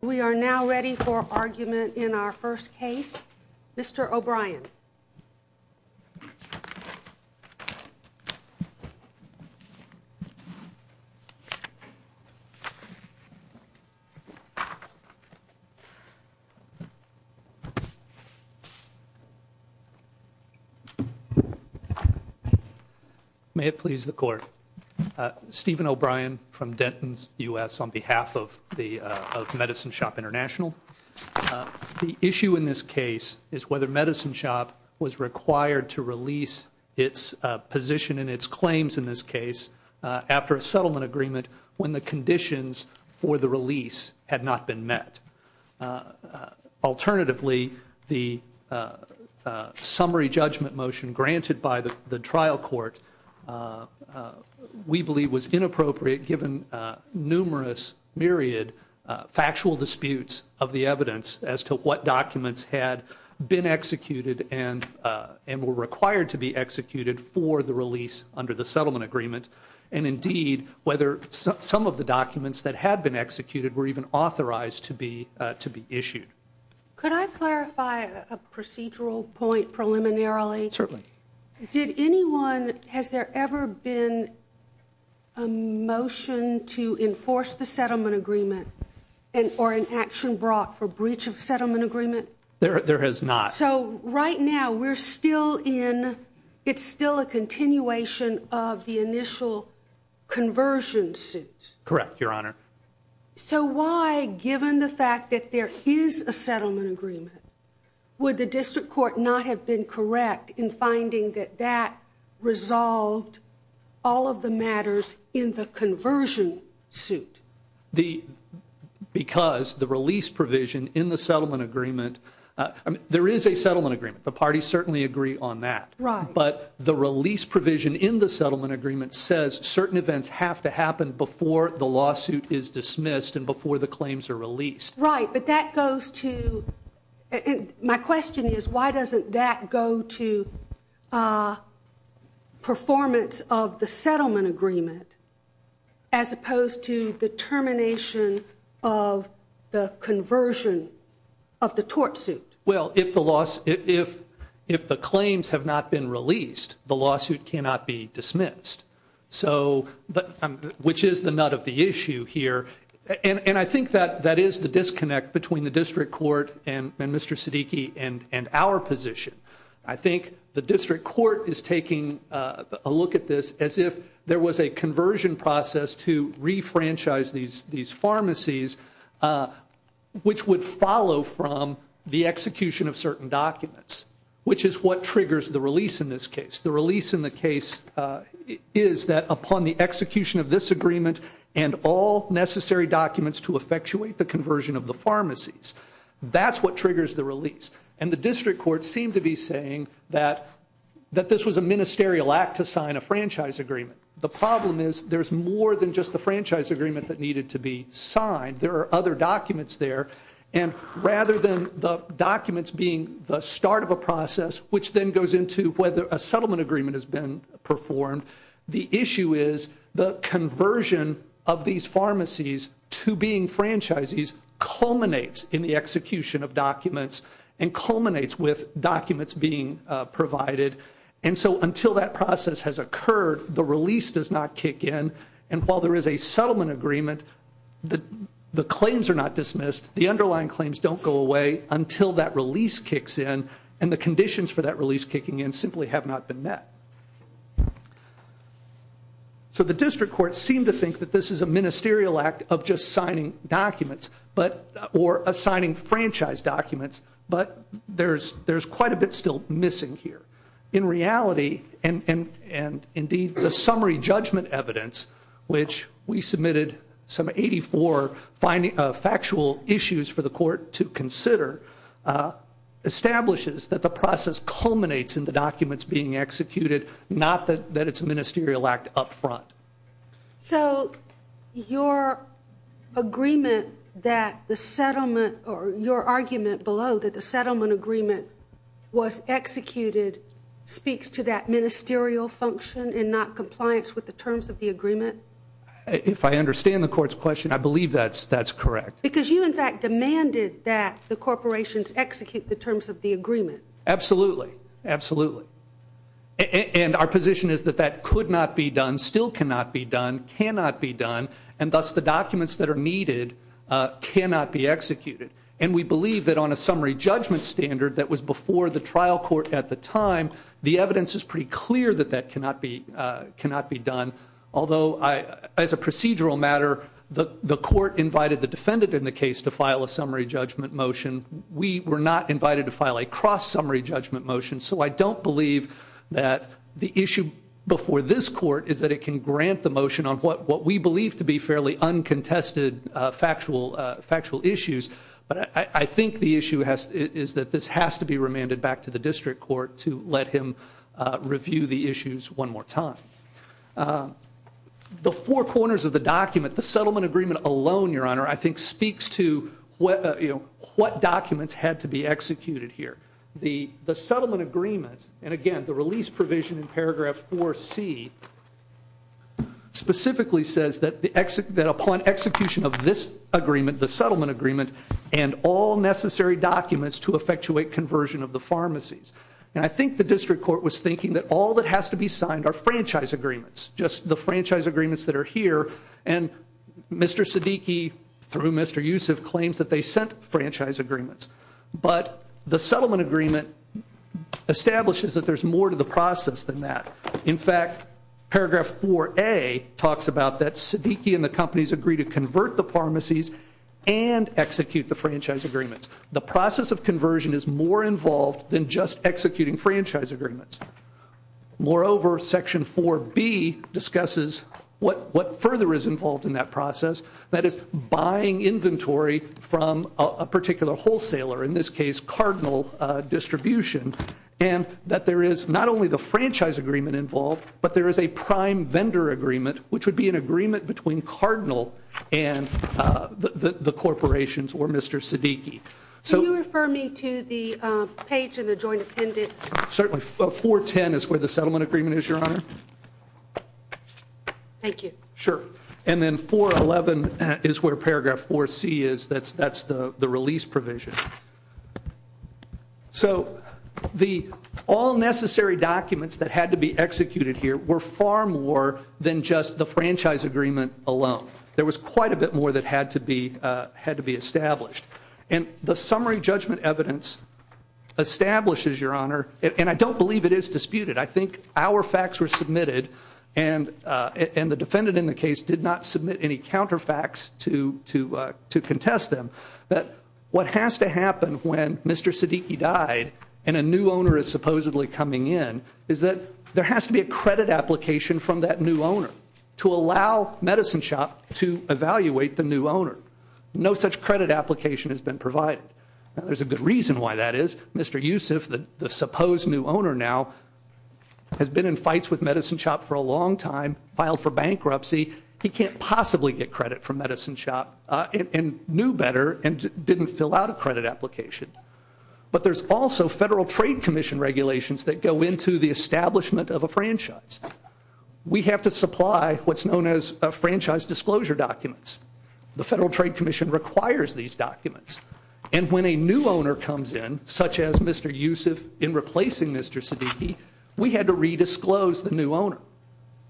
We are now ready for argument in our first case. Mr. O'Brien. May it please the Court. Steven O'Brien from Denton's U.S. on behalf of Medicine Shoppe to release its position and its claims in this case after a settlement agreement when the conditions for the release had not been met. Alternatively, the summary judgment motion granted by the trial court we believe was inappropriate given numerous, myriad, factual disputes of the evidence as to what documents had been executed and were required to be executed for the release under the settlement agreement and indeed whether some of the documents that had been executed were even authorized to be issued. Could I clarify a procedural point preliminarily? Certainly. Did anyone, has there ever been a motion to enforce the action brought for breach of settlement agreement? There has not. So right now we're still in, it's still a continuation of the initial conversion suit? Correct, Your Honor. So why, given the fact that there is a settlement agreement, would the district court not have been correct in finding that that resolved all of the matters in the conversion suit? The, because the release provision in the settlement agreement, there is a settlement agreement. The parties certainly agree on that. Right. But the release provision in the settlement agreement says certain events have to happen before the lawsuit is dismissed and before the claims are released. Right, but that goes to, and my question is why doesn't that go to performance of the settlement agreement as opposed to the termination of the conversion of the tort suit? Well, if the loss, if the claims have not been released, the lawsuit cannot be dismissed. So, which is the nut of the issue here. And I think that that is the disconnect between the district court and Mr. Siddiqui and our position. I think the district court is taking a look at this as if there was a conversion process to re-franchise these pharmacies, which would follow from the execution of certain documents, which is what triggers the release in this agreement and all necessary documents to effectuate the conversion of the pharmacies. That's what triggers the release. And the district court seemed to be saying that, that this was a ministerial act to sign a franchise agreement. The problem is there's more than just the franchise agreement that needed to be signed. There are other documents there. And rather than the documents being the start of a process, which then goes into whether a settlement agreement has been performed, the issue is the conversion of these pharmacies to being franchises culminates in the execution of documents and culminates with documents being provided. And so, until that process has occurred, the release does not kick in. And while there is a settlement agreement, the claims are not dismissed. The underlying claims don't go away until that release kicks in. And the conditions for that release kicking in simply have not been met. So the district court seemed to think that this is a ministerial act of just signing documents or assigning franchise documents, but there's quite a bit still missing here. In reality, and indeed the summary judgment evidence, which we submitted some 84 factual issues for the court to consider, establishes that the process culminates in the documents being executed, not that it's a ministerial act up front. So your agreement that the settlement or your argument below that the settlement agreement was executed speaks to that ministerial function and not compliance with the terms of the agreement? If I understand the court's question, I believe that's correct. Because you, in fact, demanded that the corporations execute the terms of the agreement. Absolutely. Absolutely. And our position is that that could not be done, still cannot be done, cannot be done, and thus the documents that are needed cannot be executed. And we believe that on a summary judgment standard that was before the trial court at the time, the evidence is pretty clear that that cannot be done. Although, as a procedural matter, the court invited the defendant in the case to file a summary judgment motion. We were not invited to file a cross-summary judgment motion. So I don't believe that the issue before this court is that it can grant the motion on what we believe to be fairly uncontested factual issues. But I think the issue is that this has to be remanded back to the district court to let him review the issues one more time. The four corners of the document, the settlement agreement alone, Your Honor, I think speaks to what documents had to be executed here. The settlement agreement, and again, the release provision in paragraph 4C, specifically says that upon execution of this agreement, the settlement agreement, and all necessary documents to effectuate conversion of the pharmacies. And I think the district court was thinking that all that has to be signed are franchise agreements, just the franchise agreements that are here. And Mr. Siddiqui, through Mr. Yusuf, claims that they sent franchise agreements. But the settlement agreement establishes that there's more to the process than that. In fact, paragraph 4A talks about that Siddiqui and the companies agree to convert the pharmacies and execute the franchise agreements. The process of conversion is more involved than just executing franchise agreements. Moreover, section 4B discusses what further is involved in that process, that is, buying inventory from a particular wholesaler, in this case, Cardinal Distribution, and that there is not only the franchise agreement involved, but there is a prime vendor agreement, which would be an agreement between Cardinal and the corporations or Mr. Siddiqui. Can you refer me to the page in the joint appendix? Certainly. 410 is where the settlement agreement is, Your Honor. Thank you. Sure. And then 411 is where paragraph 4C is. That's the release provision. So, the all necessary documents that had to be executed here were far more than just the franchise agreement alone. There was quite a bit more that had to be established. And the summary judgment evidence establishes, Your Honor, and I don't believe it is disputed, I think our facts were submitted and the defendant in the case did not submit any counter facts to contest them, that what has to happen when Mr. Siddiqui died and a new owner is supposedly coming in is that there has to be a credit application from that new owner to allow Medicine Shop to evaluate the new owner. No such credit application has been provided. Now, there's a good reason why that is. Mr. Yusuf, the supposed new owner now, has been in fights with Medicine Shop for a long time, filed for bankruptcy. He can't possibly get credit from Medicine Shop and knew better and didn't fill out a credit application. But there's also Federal Trade Commission regulations that go into the establishment of a franchise. We have to supply what's known as a franchise disclosure documents. The Federal Trade Commission requires these documents. And when a new owner comes in, such as Mr. Yusuf in replacing Mr. Siddiqui, we had to redisclose the new owner.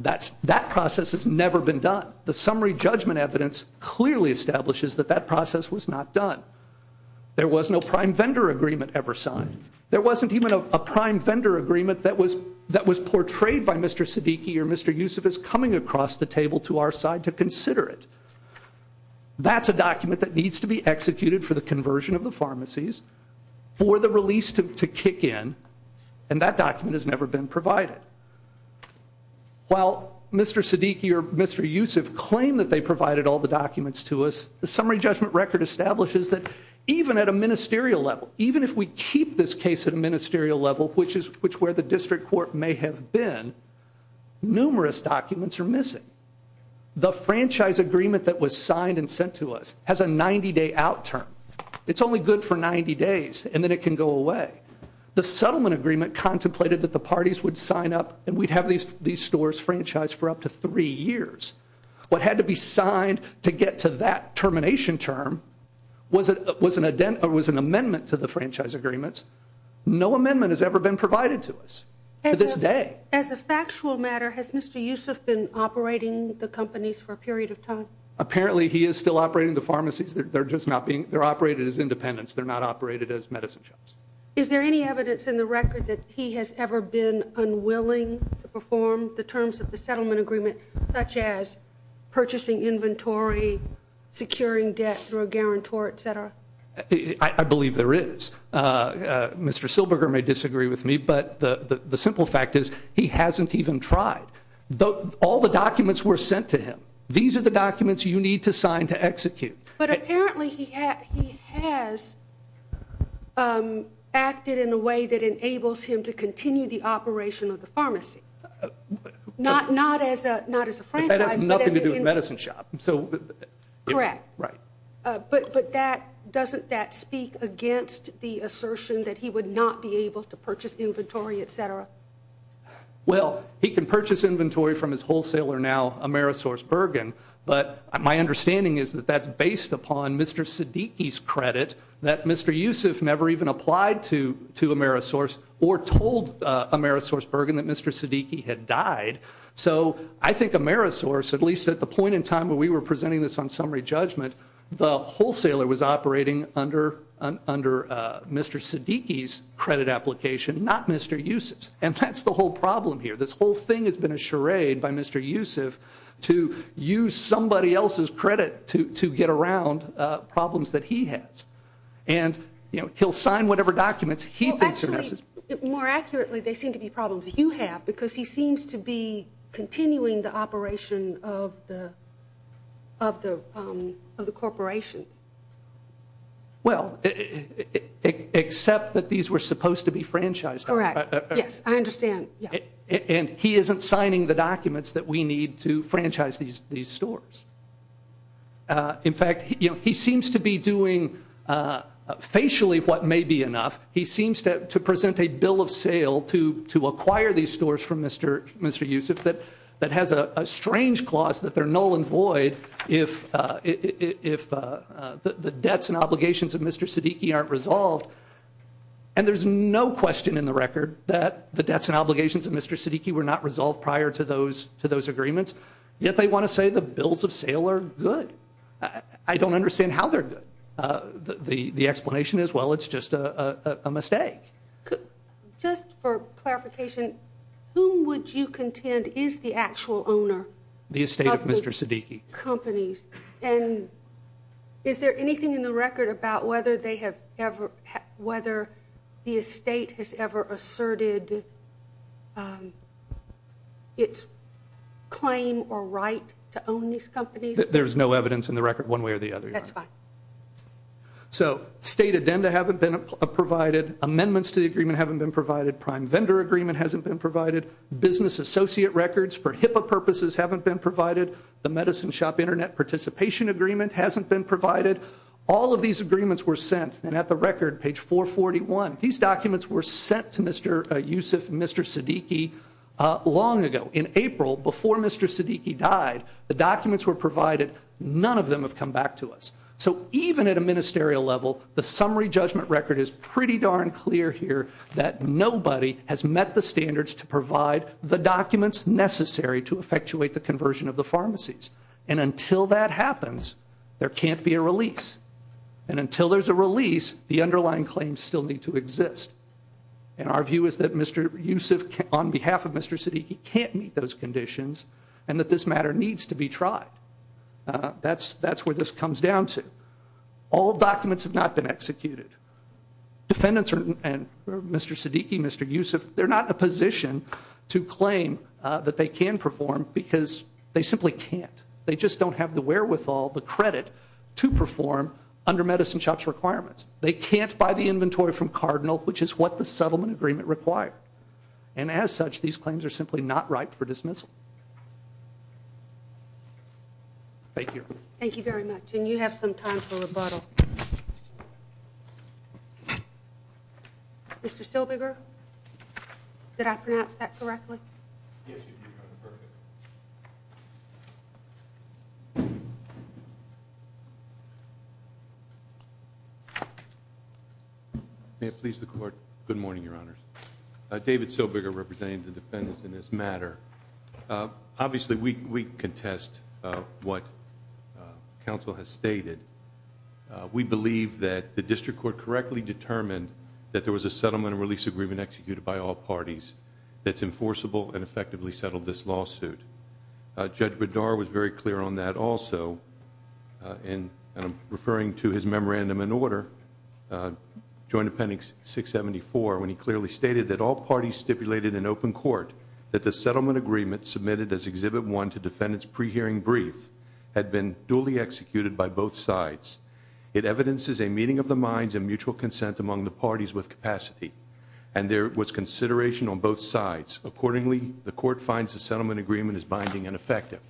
That process has never been done. The summary judgment evidence clearly establishes that that process was not done. There was no prime vendor agreement ever signed. There wasn't even a prime vendor agreement that was portrayed by Mr. Siddiqui or Mr. Yusuf as coming across the table to our side to consider it. That's a document that needs to be executed for the conversion of the pharmacies, for the release to kick in, and that document has never been provided. While Mr. Siddiqui or Mr. Yusuf claim that they provided all the documents to us, the summary judgment record establishes that even at a ministerial level, even if we keep this case at a ministerial level, which is where the district court may have been, numerous documents are missing. The franchise agreement that was signed and sent to us has a 90-day out term. It's only good for 90 days and then it can go away. The settlement agreement contemplated that the parties would sign up and we'd have these stores franchised for up to three years. What had to be signed to get to that termination was an amendment to the franchise agreements. No amendment has ever been provided to us to this day. As a factual matter, has Mr. Yusuf been operating the companies for a period of time? Apparently he is still operating the pharmacies. They're operated as independents. They're not operated as medicine shops. Is there any evidence in the record that he has ever been unwilling to perform the terms of the settlement agreement such as purchasing inventory, securing debt through a guarantor, etc.? I believe there is. Mr. Silberger may disagree with me, but the simple fact is he hasn't even tried. All the documents were sent to him. These are the documents you need to sign to execute. But apparently he has acted in a way that enables him to continue the operation of the pharmacy. Not as a franchise, but as an entity. But that has nothing to do with medicine shop. Correct. Right. But doesn't that speak against the assertion that he would not be able to purchase inventory, etc.? Well, he can purchase inventory from his wholesaler now, AmerisourceBergen, but my understanding is that that's based upon Mr. Siddiqi's credit that Mr. Yusuf never even applied to Amerisource or told AmerisourceBergen that Mr. Siddiqi had died. So I think Amerisource, at least at the point in time when we were presenting this on summary judgment, the wholesaler was operating under Mr. Siddiqi's credit application, not Mr. Yusuf's. And that's the whole problem here. This whole thing has been a charade by Mr. Yusuf to use somebody else's credit to get around problems that he has. And, you know, he'll sign whatever documents he thinks are necessary. Well, actually, more accurately, they seem to be problems you have because he seems to be continuing the operation of the corporations. Well, except that these were supposed to be franchised. Correct. Yes, I understand. And he isn't signing the documents that we need to franchise these stores. In fact, he seems to be doing facially what may be enough. He seems to present a bill of sale to acquire these stores from Mr. Yusuf that has a strange clause that they're null and void if the debts and obligations of Mr. Siddiqi aren't resolved. And there's no question in the record that the debts and obligations of Mr. Siddiqi were not resolved prior to those agreements. Yet they want to say the bills of sale are good. I don't understand how they're good. The explanation is, well, it's just a mistake. Just for clarification, whom would you contend is the actual owner of the companies? The estate of Mr. Siddiqi. Companies. And is there anything in the record about whether they have ever, whether the estate has ever asserted its claim or right to own these companies? There's no evidence in the record one way or the other. That's fine. So, state addenda haven't been provided. Amendments to the agreement haven't been provided. Prime vendor agreement hasn't been provided. Business associate records for HIPAA purposes haven't been provided. The medicine shop internet participation agreement hasn't been provided. All of these agreements were sent. And at the record, page 441, these documents were sent to Mr. Yusuf and Mr. Siddiqi long ago. In April, before Mr. Siddiqi died, the documents were provided. None of them have come back to us. So, even at a ministerial level, the summary judgment record is pretty darn clear here that nobody has met the standards to provide the documents necessary to effectuate the conversion of the pharmacies. And until that happens, there can't be a release. And until there's a release, the underlying claims still need to exist. And our view is that Mr. Yusuf, on behalf of Mr. Siddiqi, can't meet those conditions and that this matter needs to be tried. That's where this comes down to. All documents have not been executed. Defendants and Mr. Siddiqi, Mr. Yusuf, they're not in a position to claim that they can perform because they simply can't. They just don't have the wherewithal, the credit, to perform under Medicine Shop's requirements. They can't buy the inventory from Cardinal, which is what the settlement agreement required. And as such, these claims are simply not ripe for dismissal. Thank you. Thank you very much. And you have some time for rebuttal. Mr. Silbiger, did I pronounce that correctly? Yes, you did, Your Honor. Perfect. May it please the Court. Good morning, Your Honors. David Silbiger, representing the defendants in this matter. Obviously, we contest what counsel has stated. We believe that the district court correctly determined that there was a settlement and release agreement executed by all parties that's enforceable and effectively settled this lawsuit. Judge Bedard was very clear on that also. And I'm referring to his memorandum in order, Joint Appendix 674, when he clearly stated that all parties stipulated in open court that the settlement agreement submitted as Exhibit 1 to defendants' pre-hearing brief had been duly executed by both sides. It evidences a meeting of the minds and mutual consent among the parties with capacity. And there was consideration on both sides. Accordingly, the Court finds the settlement agreement is binding and effective.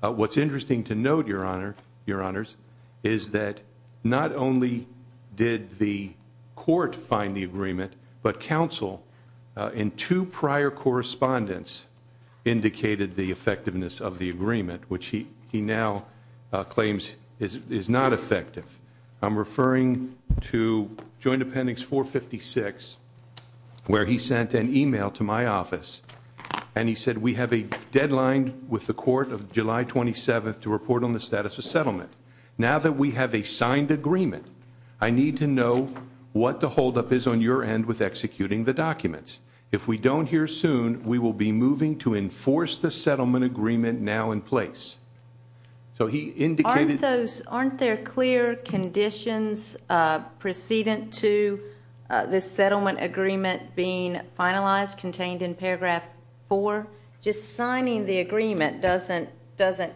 What's interesting to note, Your Honor, Your Honors, is that not only did the Court find the agreement, but counsel in two prior correspondence indicated the effectiveness of the agreement, which he now claims is not effective. I'm referring to Joint Appendix 456, where he sent an email to my office, and he said, We have a deadline with the Court of July 27th to report on the status of settlement. Now that we have a signed agreement, I need to know what the holdup is on your end with executing the documents. If we don't hear soon, we will be moving to enforce the settlement agreement now in place. So he indicated Aren't there clear conditions precedent to this settlement agreement being finalized, contained in Paragraph 4? Just signing the agreement doesn't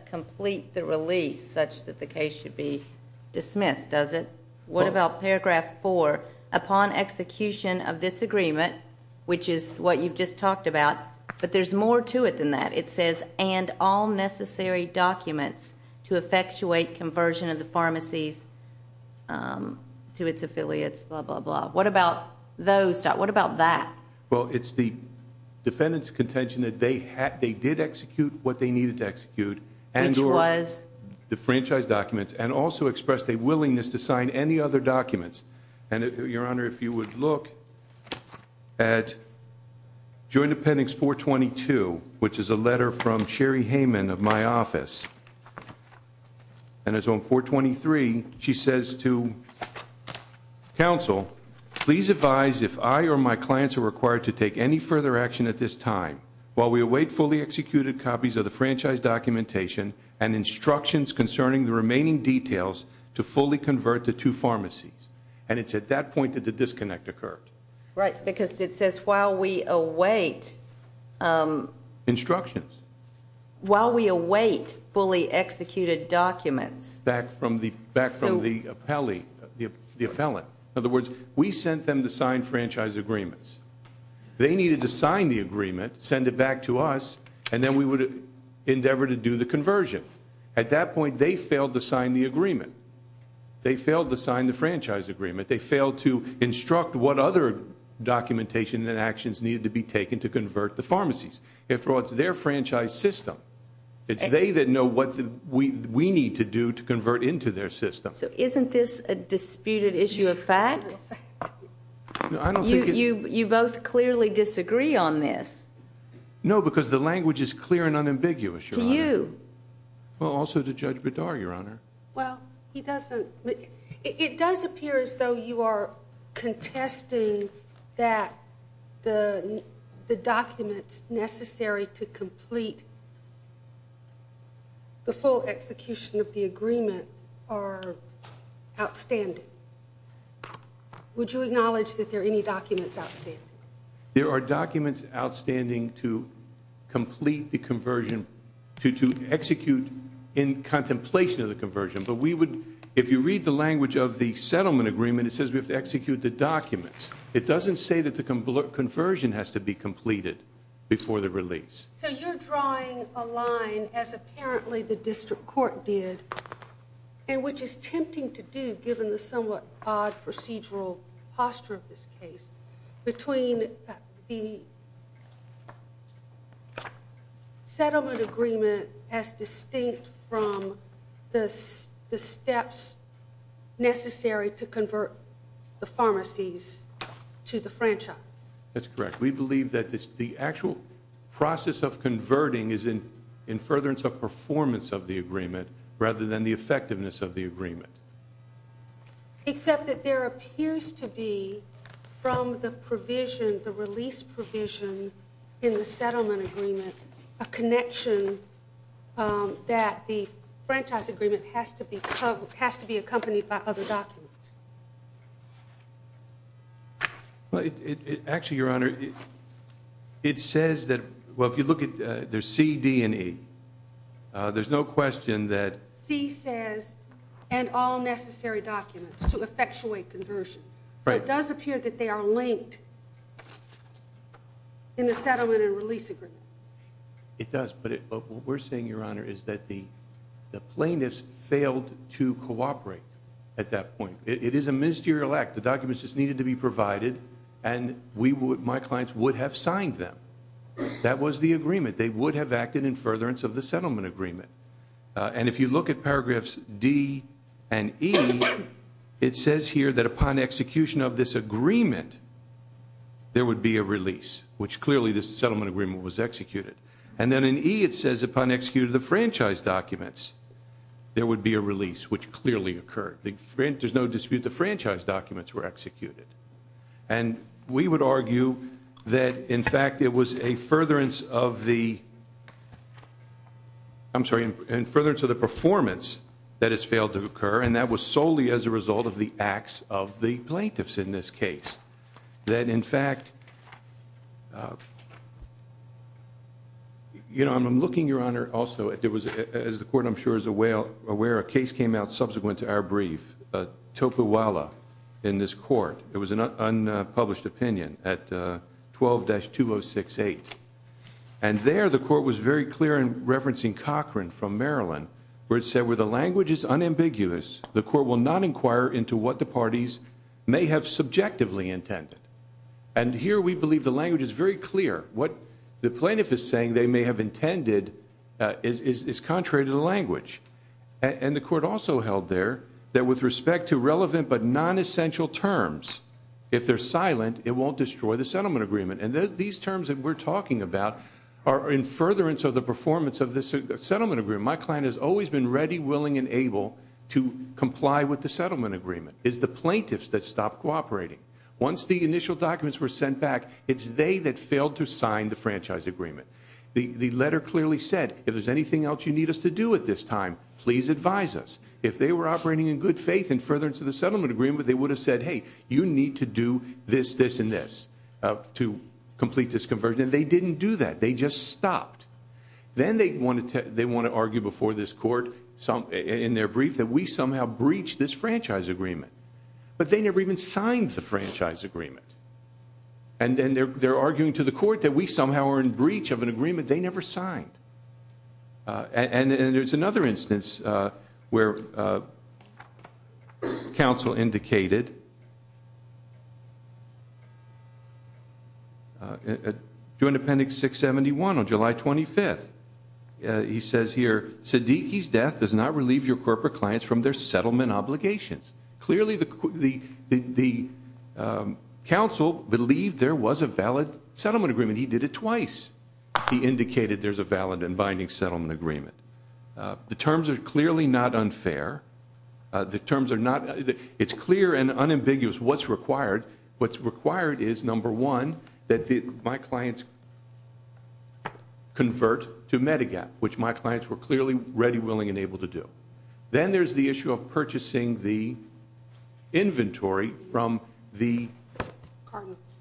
complete the release such that the case should be dismissed, does it? What about Paragraph 4? Upon execution of this agreement, which is what you've just talked about, but there's more to it than that. It says, And all necessary documents to effectuate conversion of the pharmacies to its affiliates, blah, blah, blah. What about those? What about that? Well, it's the defendant's contention that they did execute what they needed to execute. Which was? The franchise documents, and also expressed a willingness to sign any other documents. And, Your Honor, if you would look at Joint Appendix 422, which is a letter from Sherry Hayman of my office, and it's on 423, she says to counsel, Please advise if I or my clients are required to take any further action at this time while we await fully executed copies of the franchise documentation and instructions concerning the remaining details to fully convert the two pharmacies. And it's at that point that the disconnect occurred. Right, because it says, While we await Instructions. While we await fully executed documents. Back from the appellate. In other words, we sent them to sign franchise agreements. They needed to sign the agreement, send it back to us, and then we would endeavor to do the conversion. At that point, they failed to sign the agreement. They failed to sign the franchise agreement. They failed to instruct what other documentation and actions needed to be taken to convert the pharmacies. After all, it's their franchise system. It's they that know what we need to do to convert into their system. So isn't this a disputed issue of fact? You both clearly disagree on this. No, because the language is clear and unambiguous, Your Honor. To you. Well, also to Judge Bedard, Your Honor. Well, he doesn't. It does appear as though you are contesting that the documents necessary to complete the full execution of the agreement are outstanding. Would you acknowledge that there are any documents outstanding? There are documents outstanding to complete the conversion, to execute in contemplation of the conversion. But if you read the language of the settlement agreement, it says we have to execute the documents. It doesn't say that the conversion has to be completed before the release. So you're drawing a line, as apparently the district court did, and which is tempting to do given the somewhat odd procedural posture of this case, between the settlement agreement as distinct from the steps necessary to convert the pharmacies to the franchise. That's correct. We believe that the actual process of converting is in furtherance of performance of the agreement, except that there appears to be, from the provision, the release provision in the settlement agreement, a connection that the franchise agreement has to be accompanied by other documents. Actually, Your Honor, it says that, well, if you look at, there's C, D, and E. There's no question that- C says, and all necessary documents to effectuate conversion. Right. So it does appear that they are linked in the settlement and release agreement. It does, but what we're saying, Your Honor, is that the plaintiffs failed to cooperate at that point. It is a ministerial act. The documents just needed to be provided, and my clients would have signed them. That was the agreement. They would have acted in furtherance of the settlement agreement. And if you look at paragraphs D and E, it says here that upon execution of this agreement, there would be a release, which clearly this settlement agreement was executed. And then in E, it says upon execution of the franchise documents, there would be a release, which clearly occurred. There's no dispute the franchise documents were executed. And we would argue that, in fact, it was a furtherance of the performance that has failed to occur, and that was solely as a result of the acts of the plaintiffs in this case. That, in fact, you know, I'm looking, Your Honor, also, as the court, I'm sure, is aware, a case came out subsequent to our brief, Topuwala, in this court. It was an unpublished opinion at 12-2068. And there the court was very clear in referencing Cochran from Maryland, where it said, where the language is unambiguous, the court will not inquire into what the parties may have subjectively intended. And here we believe the language is very clear. What the plaintiff is saying they may have intended is contrary to the language. And the court also held there that with respect to relevant but nonessential terms, if they're silent, it won't destroy the settlement agreement. And these terms that we're talking about are in furtherance of the performance of this settlement agreement. My client has always been ready, willing, and able to comply with the settlement agreement. It's the plaintiffs that stopped cooperating. Once the initial documents were sent back, it's they that failed to sign the franchise agreement. The letter clearly said, if there's anything else you need us to do at this time, please advise us. If they were operating in good faith in furtherance of the settlement agreement, they would have said, hey, you need to do this, this, and this to complete this conversion. And they didn't do that. They just stopped. Then they want to argue before this court in their brief that we somehow breached this franchise agreement. But they never even signed the franchise agreement. And they're arguing to the court that we somehow are in breach of an agreement they never signed. And there's another instance where counsel indicated, during Appendix 671 on July 25th, he says here, Medigap does not relieve your corporate clients from their settlement obligations. Clearly the counsel believed there was a valid settlement agreement. He did it twice. He indicated there's a valid and binding settlement agreement. The terms are clearly not unfair. It's clear and unambiguous what's required. What's required is, number one, that my clients convert to Medigap, which my clients were clearly ready, willing, and able to do. Then there's the issue of purchasing the inventory from the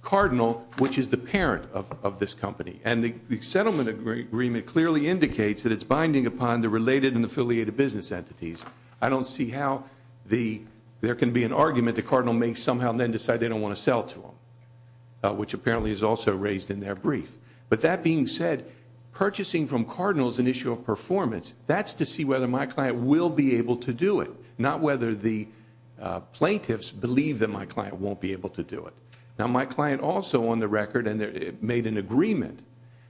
cardinal, which is the parent of this company. And the settlement agreement clearly indicates that it's binding upon the related and affiliated business entities. I don't see how there can be an argument the cardinal may somehow then decide they don't want to sell to them, which apparently is also raised in their brief. But that being said, purchasing from cardinal is an issue of performance. That's to see whether my client will be able to do it, not whether the plaintiffs believe that my client won't be able to do it. Now my client also on the record made an agreement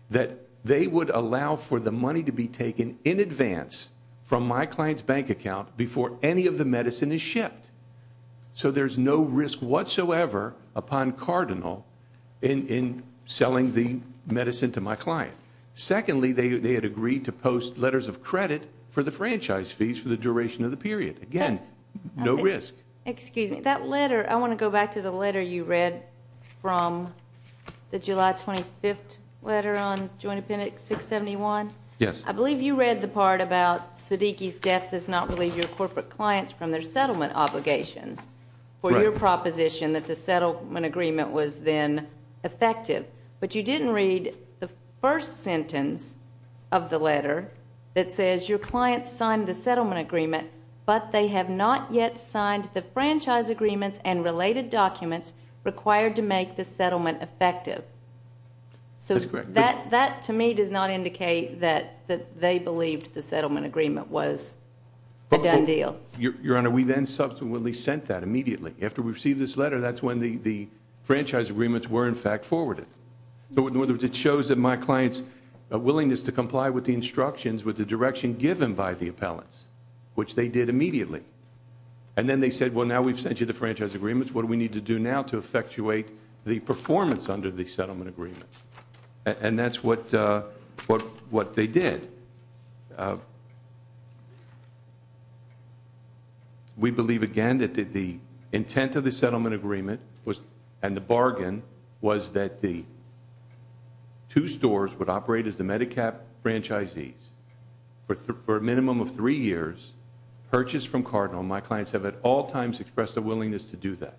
that they would allow for the money to be taken in advance from my client's bank account before any of the medicine is shipped. So there's no risk whatsoever upon cardinal in selling the medicine to my client. Secondly, they had agreed to post letters of credit for the franchise fees for the duration of the period. Again, no risk. Excuse me. That letter, I want to go back to the letter you read from the July 25th letter on Joint Appendix 671. Yes. I believe you read the part about Siddiqui's death does not relieve your corporate clients from their settlement obligations for your proposition that the settlement agreement was then effective. But you didn't read the first sentence of the letter that says your client signed the settlement agreement, but they have not yet signed the franchise agreements and related documents required to make the settlement effective. That's correct. They believed the settlement agreement was a done deal. Your Honor, we then subsequently sent that immediately. After we received this letter, that's when the franchise agreements were in fact forwarded. So in other words, it shows that my client's willingness to comply with the instructions with the direction given by the appellants, which they did immediately. And then they said, well, now we've sent you the franchise agreements. What do we need to do now to effectuate the performance under the settlement agreement? And that's what they did. We believe, again, that the intent of the settlement agreement and the bargain was that the two stores would operate as the MediCap franchisees for a minimum of three years purchased from Cardinal. My clients have at all times expressed a willingness to do that.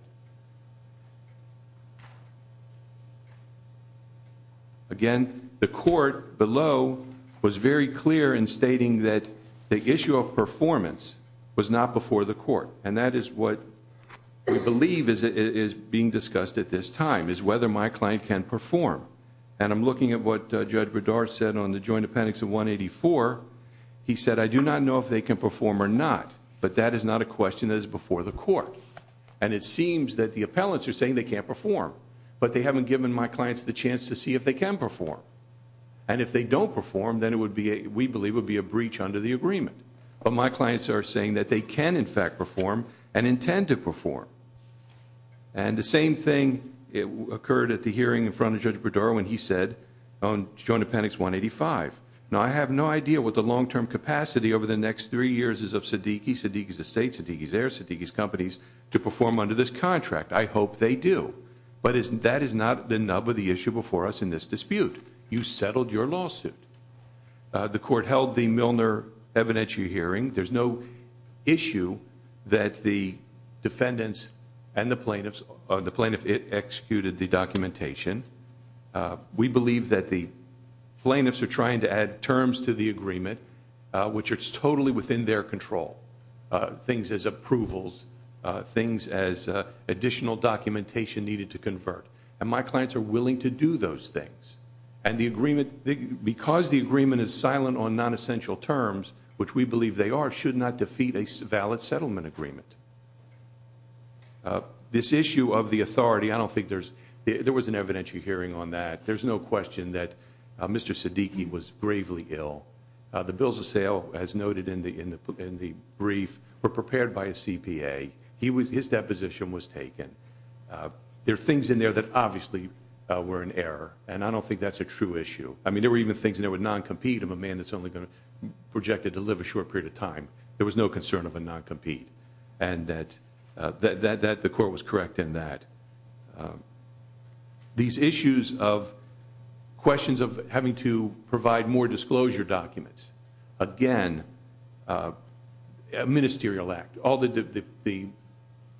Again, the court below was very clear in stating that the issue of performance was not before the court, and that is what we believe is being discussed at this time, is whether my client can perform. And I'm looking at what Judge Berdard said on the joint appendix of 184. He said, I do not know if they can perform or not, but that is not a question that is before the court. And it seems that the appellants are saying they can't perform, but they haven't given my clients the chance to see if they can perform. And if they don't perform, then it would be, we believe, would be a breach under the agreement. But my clients are saying that they can, in fact, perform and intend to perform. And the same thing occurred at the hearing in front of Judge Berdard when he said on joint appendix 185. Now, I have no idea what the long-term capacity over the next three years is of SIDDIQI, SIDDIQI's estate, SIDDIQI's heirs, SIDDIQI's companies, to perform under this contract. I hope they do. But that is not the nub of the issue before us in this dispute. You settled your lawsuit. The court held the Milner evidentiary hearing. There's no issue that the defendants and the plaintiffs executed the documentation. We believe that the plaintiffs are trying to add terms to the agreement, which are totally within their control, things as approvals, things as additional documentation needed to convert. And my clients are willing to do those things. And the agreement, because the agreement is silent on nonessential terms, which we believe they are, should not defeat a valid settlement agreement. This issue of the authority, I don't think there's, there was an evidentiary hearing on that. There's no question that Mr. SIDDIQI was gravely ill. The bills of sale, as noted in the brief, were prepared by a CPA. His deposition was taken. There are things in there that obviously were an error. And I don't think that's a true issue. I mean, there were even things in there with non-compete, I'm a man that's only going to project to live a short period of time. There was no concern of a non-compete. And that the court was correct in that. These issues of questions of having to provide more disclosure documents. Again, a ministerial act. All that the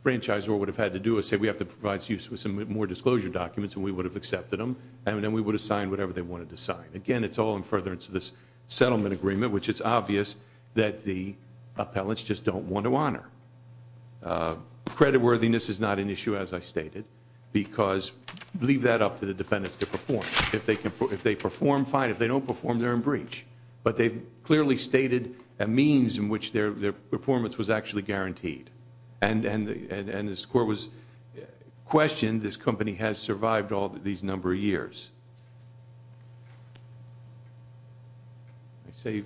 franchisor would have had to do is say we have to provide you with some more disclosure documents, and we would have accepted them, and then we would have signed whatever they wanted to sign. Again, it's all in furtherance of this settlement agreement, which it's obvious that the appellants just don't want to honor. Creditworthiness is not an issue, as I stated, because leave that up to the defendants to perform. If they perform, fine. If they don't perform, they're in breach. But they've clearly stated a means in which their performance was actually guaranteed. And as the court was questioned, this company has survived all these number of years. Do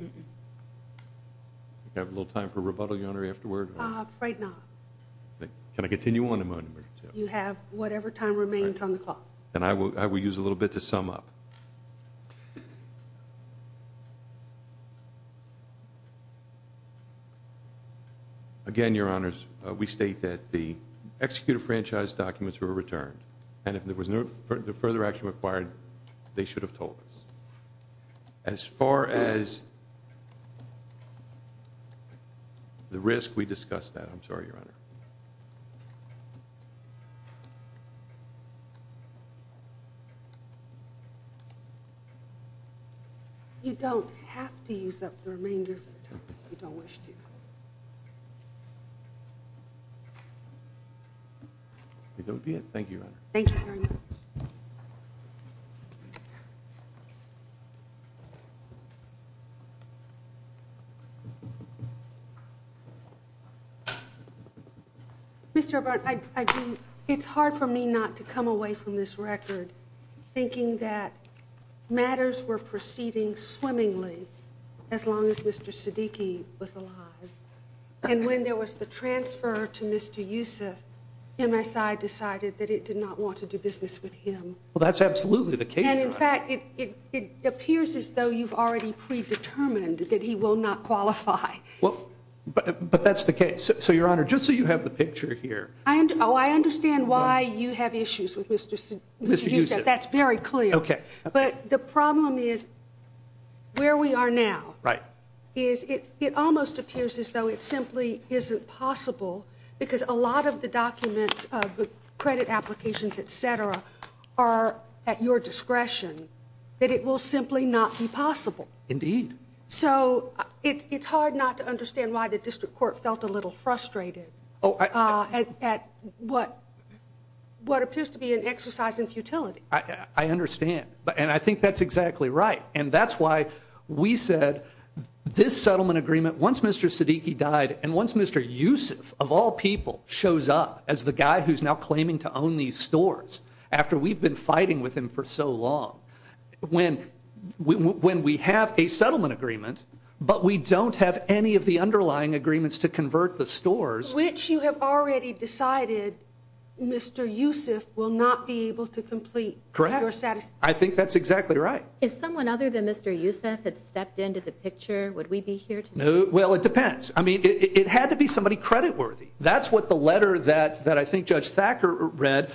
we have a little time for rebuttal, Your Honor, afterward? Right now. Can I continue on? You have whatever time remains on the clock. And I will use a little bit to sum up. Again, Your Honors, we state that the executive franchise documents were returned. And if there was no further action required, they should have told us. As far as the risk, we discussed that. I'm sorry, Your Honor. You don't have to use up the remainder if you don't wish to. That would be it. Thank you, Your Honor. Thank you very much. Mr. O'Byrne, it's hard for me not to come away from this record thinking that matters were proceeding swimmingly as long as Mr. Siddiqui was alive. And when there was the transfer to Mr. Yusuf, MSI decided that it did not want to do business with him. Well, that's absolutely the case, Your Honor. And, in fact, it appears as though you've already predetermined that he will not qualify. Well, but that's the case. So, Your Honor, just so you have the picture here. Oh, I understand why you have issues with Mr. Yusuf. That's very clear. Okay. But the problem is where we are now. Right. Is it almost appears as though it simply isn't possible because a lot of the documents, the credit applications, et cetera, are at your discretion, that it will simply not be possible. Indeed. So it's hard not to understand why the district court felt a little frustrated at what appears to be an exercise in futility. I understand. And I think that's exactly right. And that's why we said this settlement agreement, once Mr. Siddiqi died and once Mr. Yusuf, of all people, shows up as the guy who's now claiming to own these stores, after we've been fighting with him for so long, when we have a settlement agreement but we don't have any of the underlying agreements to convert the stores. Which you have already decided Mr. Yusuf will not be able to complete. Correct. I think that's exactly right. If someone other than Mr. Yusuf had stepped into the picture, would we be here today? Well, it depends. I mean, it had to be somebody creditworthy. That's what the letter that I think Judge Thacker read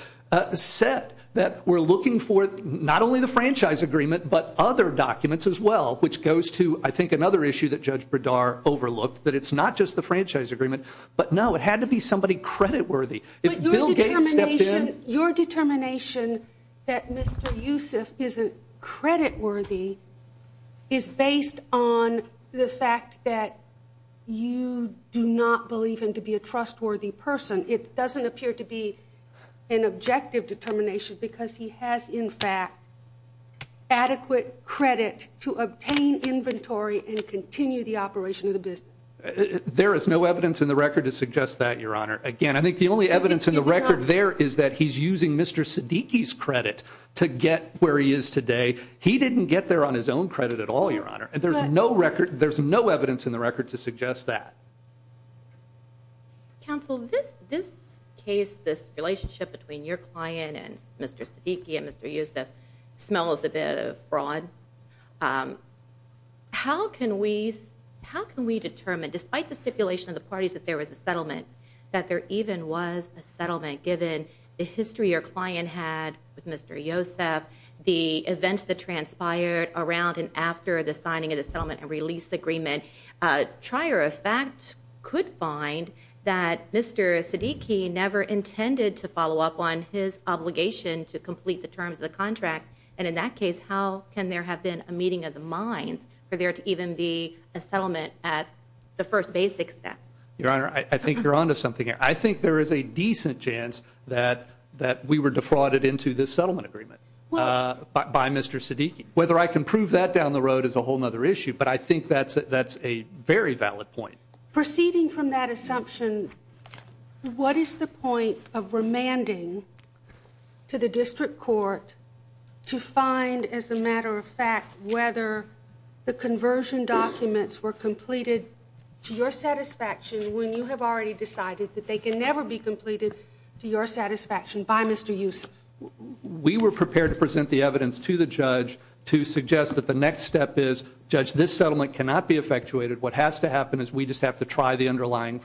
said, that we're looking for not only the franchise agreement but other documents as well, which goes to, I think, another issue that Judge Berdar overlooked, that it's not just the franchise agreement. But, no, it had to be somebody creditworthy. Your determination that Mr. Yusuf isn't creditworthy is based on the fact that you do not believe him to be a trustworthy person. It doesn't appear to be an objective determination because he has, in fact, adequate credit to obtain inventory and continue the operation of the business. There is no evidence in the record to suggest that, Your Honor. Again, I think the only evidence in the record there is that he's using Mr. Siddiqui's credit to get where he is today. He didn't get there on his own credit at all, Your Honor. There's no record. There's no evidence in the record to suggest that. Counsel, this case, this relationship between your client and Mr. Siddiqui and Mr. Yusuf smells a bit of fraud. How can we determine, despite the stipulation of the parties that there was a settlement, that there even was a settlement given the history your client had with Mr. Yusuf, the events that transpired around and after the signing of the settlement and release agreement? Trier, in fact, could find that Mr. Siddiqui never intended to follow up on his obligation to complete the terms of the contract. And in that case, how can there have been a meeting of the minds for there to even be a settlement at the first basic step? Your Honor, I think you're on to something here. I think there is a decent chance that we were defrauded into this settlement agreement by Mr. Siddiqui. Whether I can prove that down the road is a whole other issue, but I think that's a very valid point. Proceeding from that assumption, what is the point of remanding to the district court to find, as a matter of fact, whether the conversion documents were completed to your satisfaction when you have already decided that they can never be completed to your satisfaction by Mr. Yusuf? We were prepared to present the evidence to the judge to suggest that the next step is, Judge, this settlement cannot be effectuated. What has to happen is we just have to try the underlying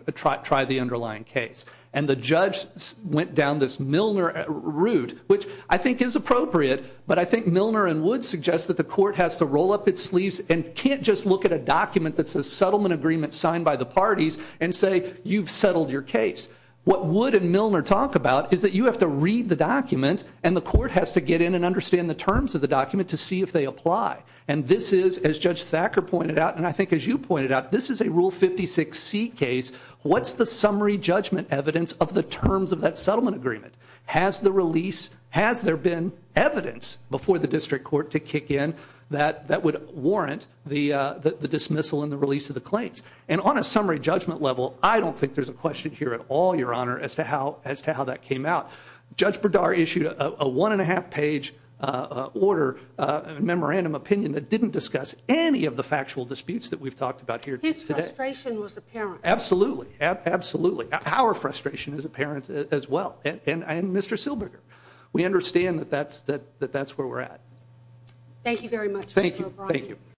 case. And the judge went down this Milner route, which I think is appropriate, but I think Milner and Wood suggest that the court has to roll up its sleeves and can't just look at a document that says settlement agreement signed by the parties and say you've settled your case. What Wood and Milner talk about is that you have to read the document and the court has to get in and understand the terms of the document to see if they apply. And this is, as Judge Thacker pointed out, and I think as you pointed out, this is a Rule 56C case. What's the summary judgment evidence of the terms of that settlement agreement? Has there been evidence before the district court to kick in that would warrant the dismissal and the release of the claims? And on a summary judgment level, I don't think there's a question here at all, Your Honor, as to how that came out. Judge Berdar issued a one-and-a-half-page order, a memorandum opinion, that didn't discuss any of the factual disputes that we've talked about here today. His frustration was apparent. Absolutely. Absolutely. Our frustration is apparent as well. And Mr. Silberger, we understand that that's where we're at. Thank you very much, Mr. O'Brien. Thank you. Thank you.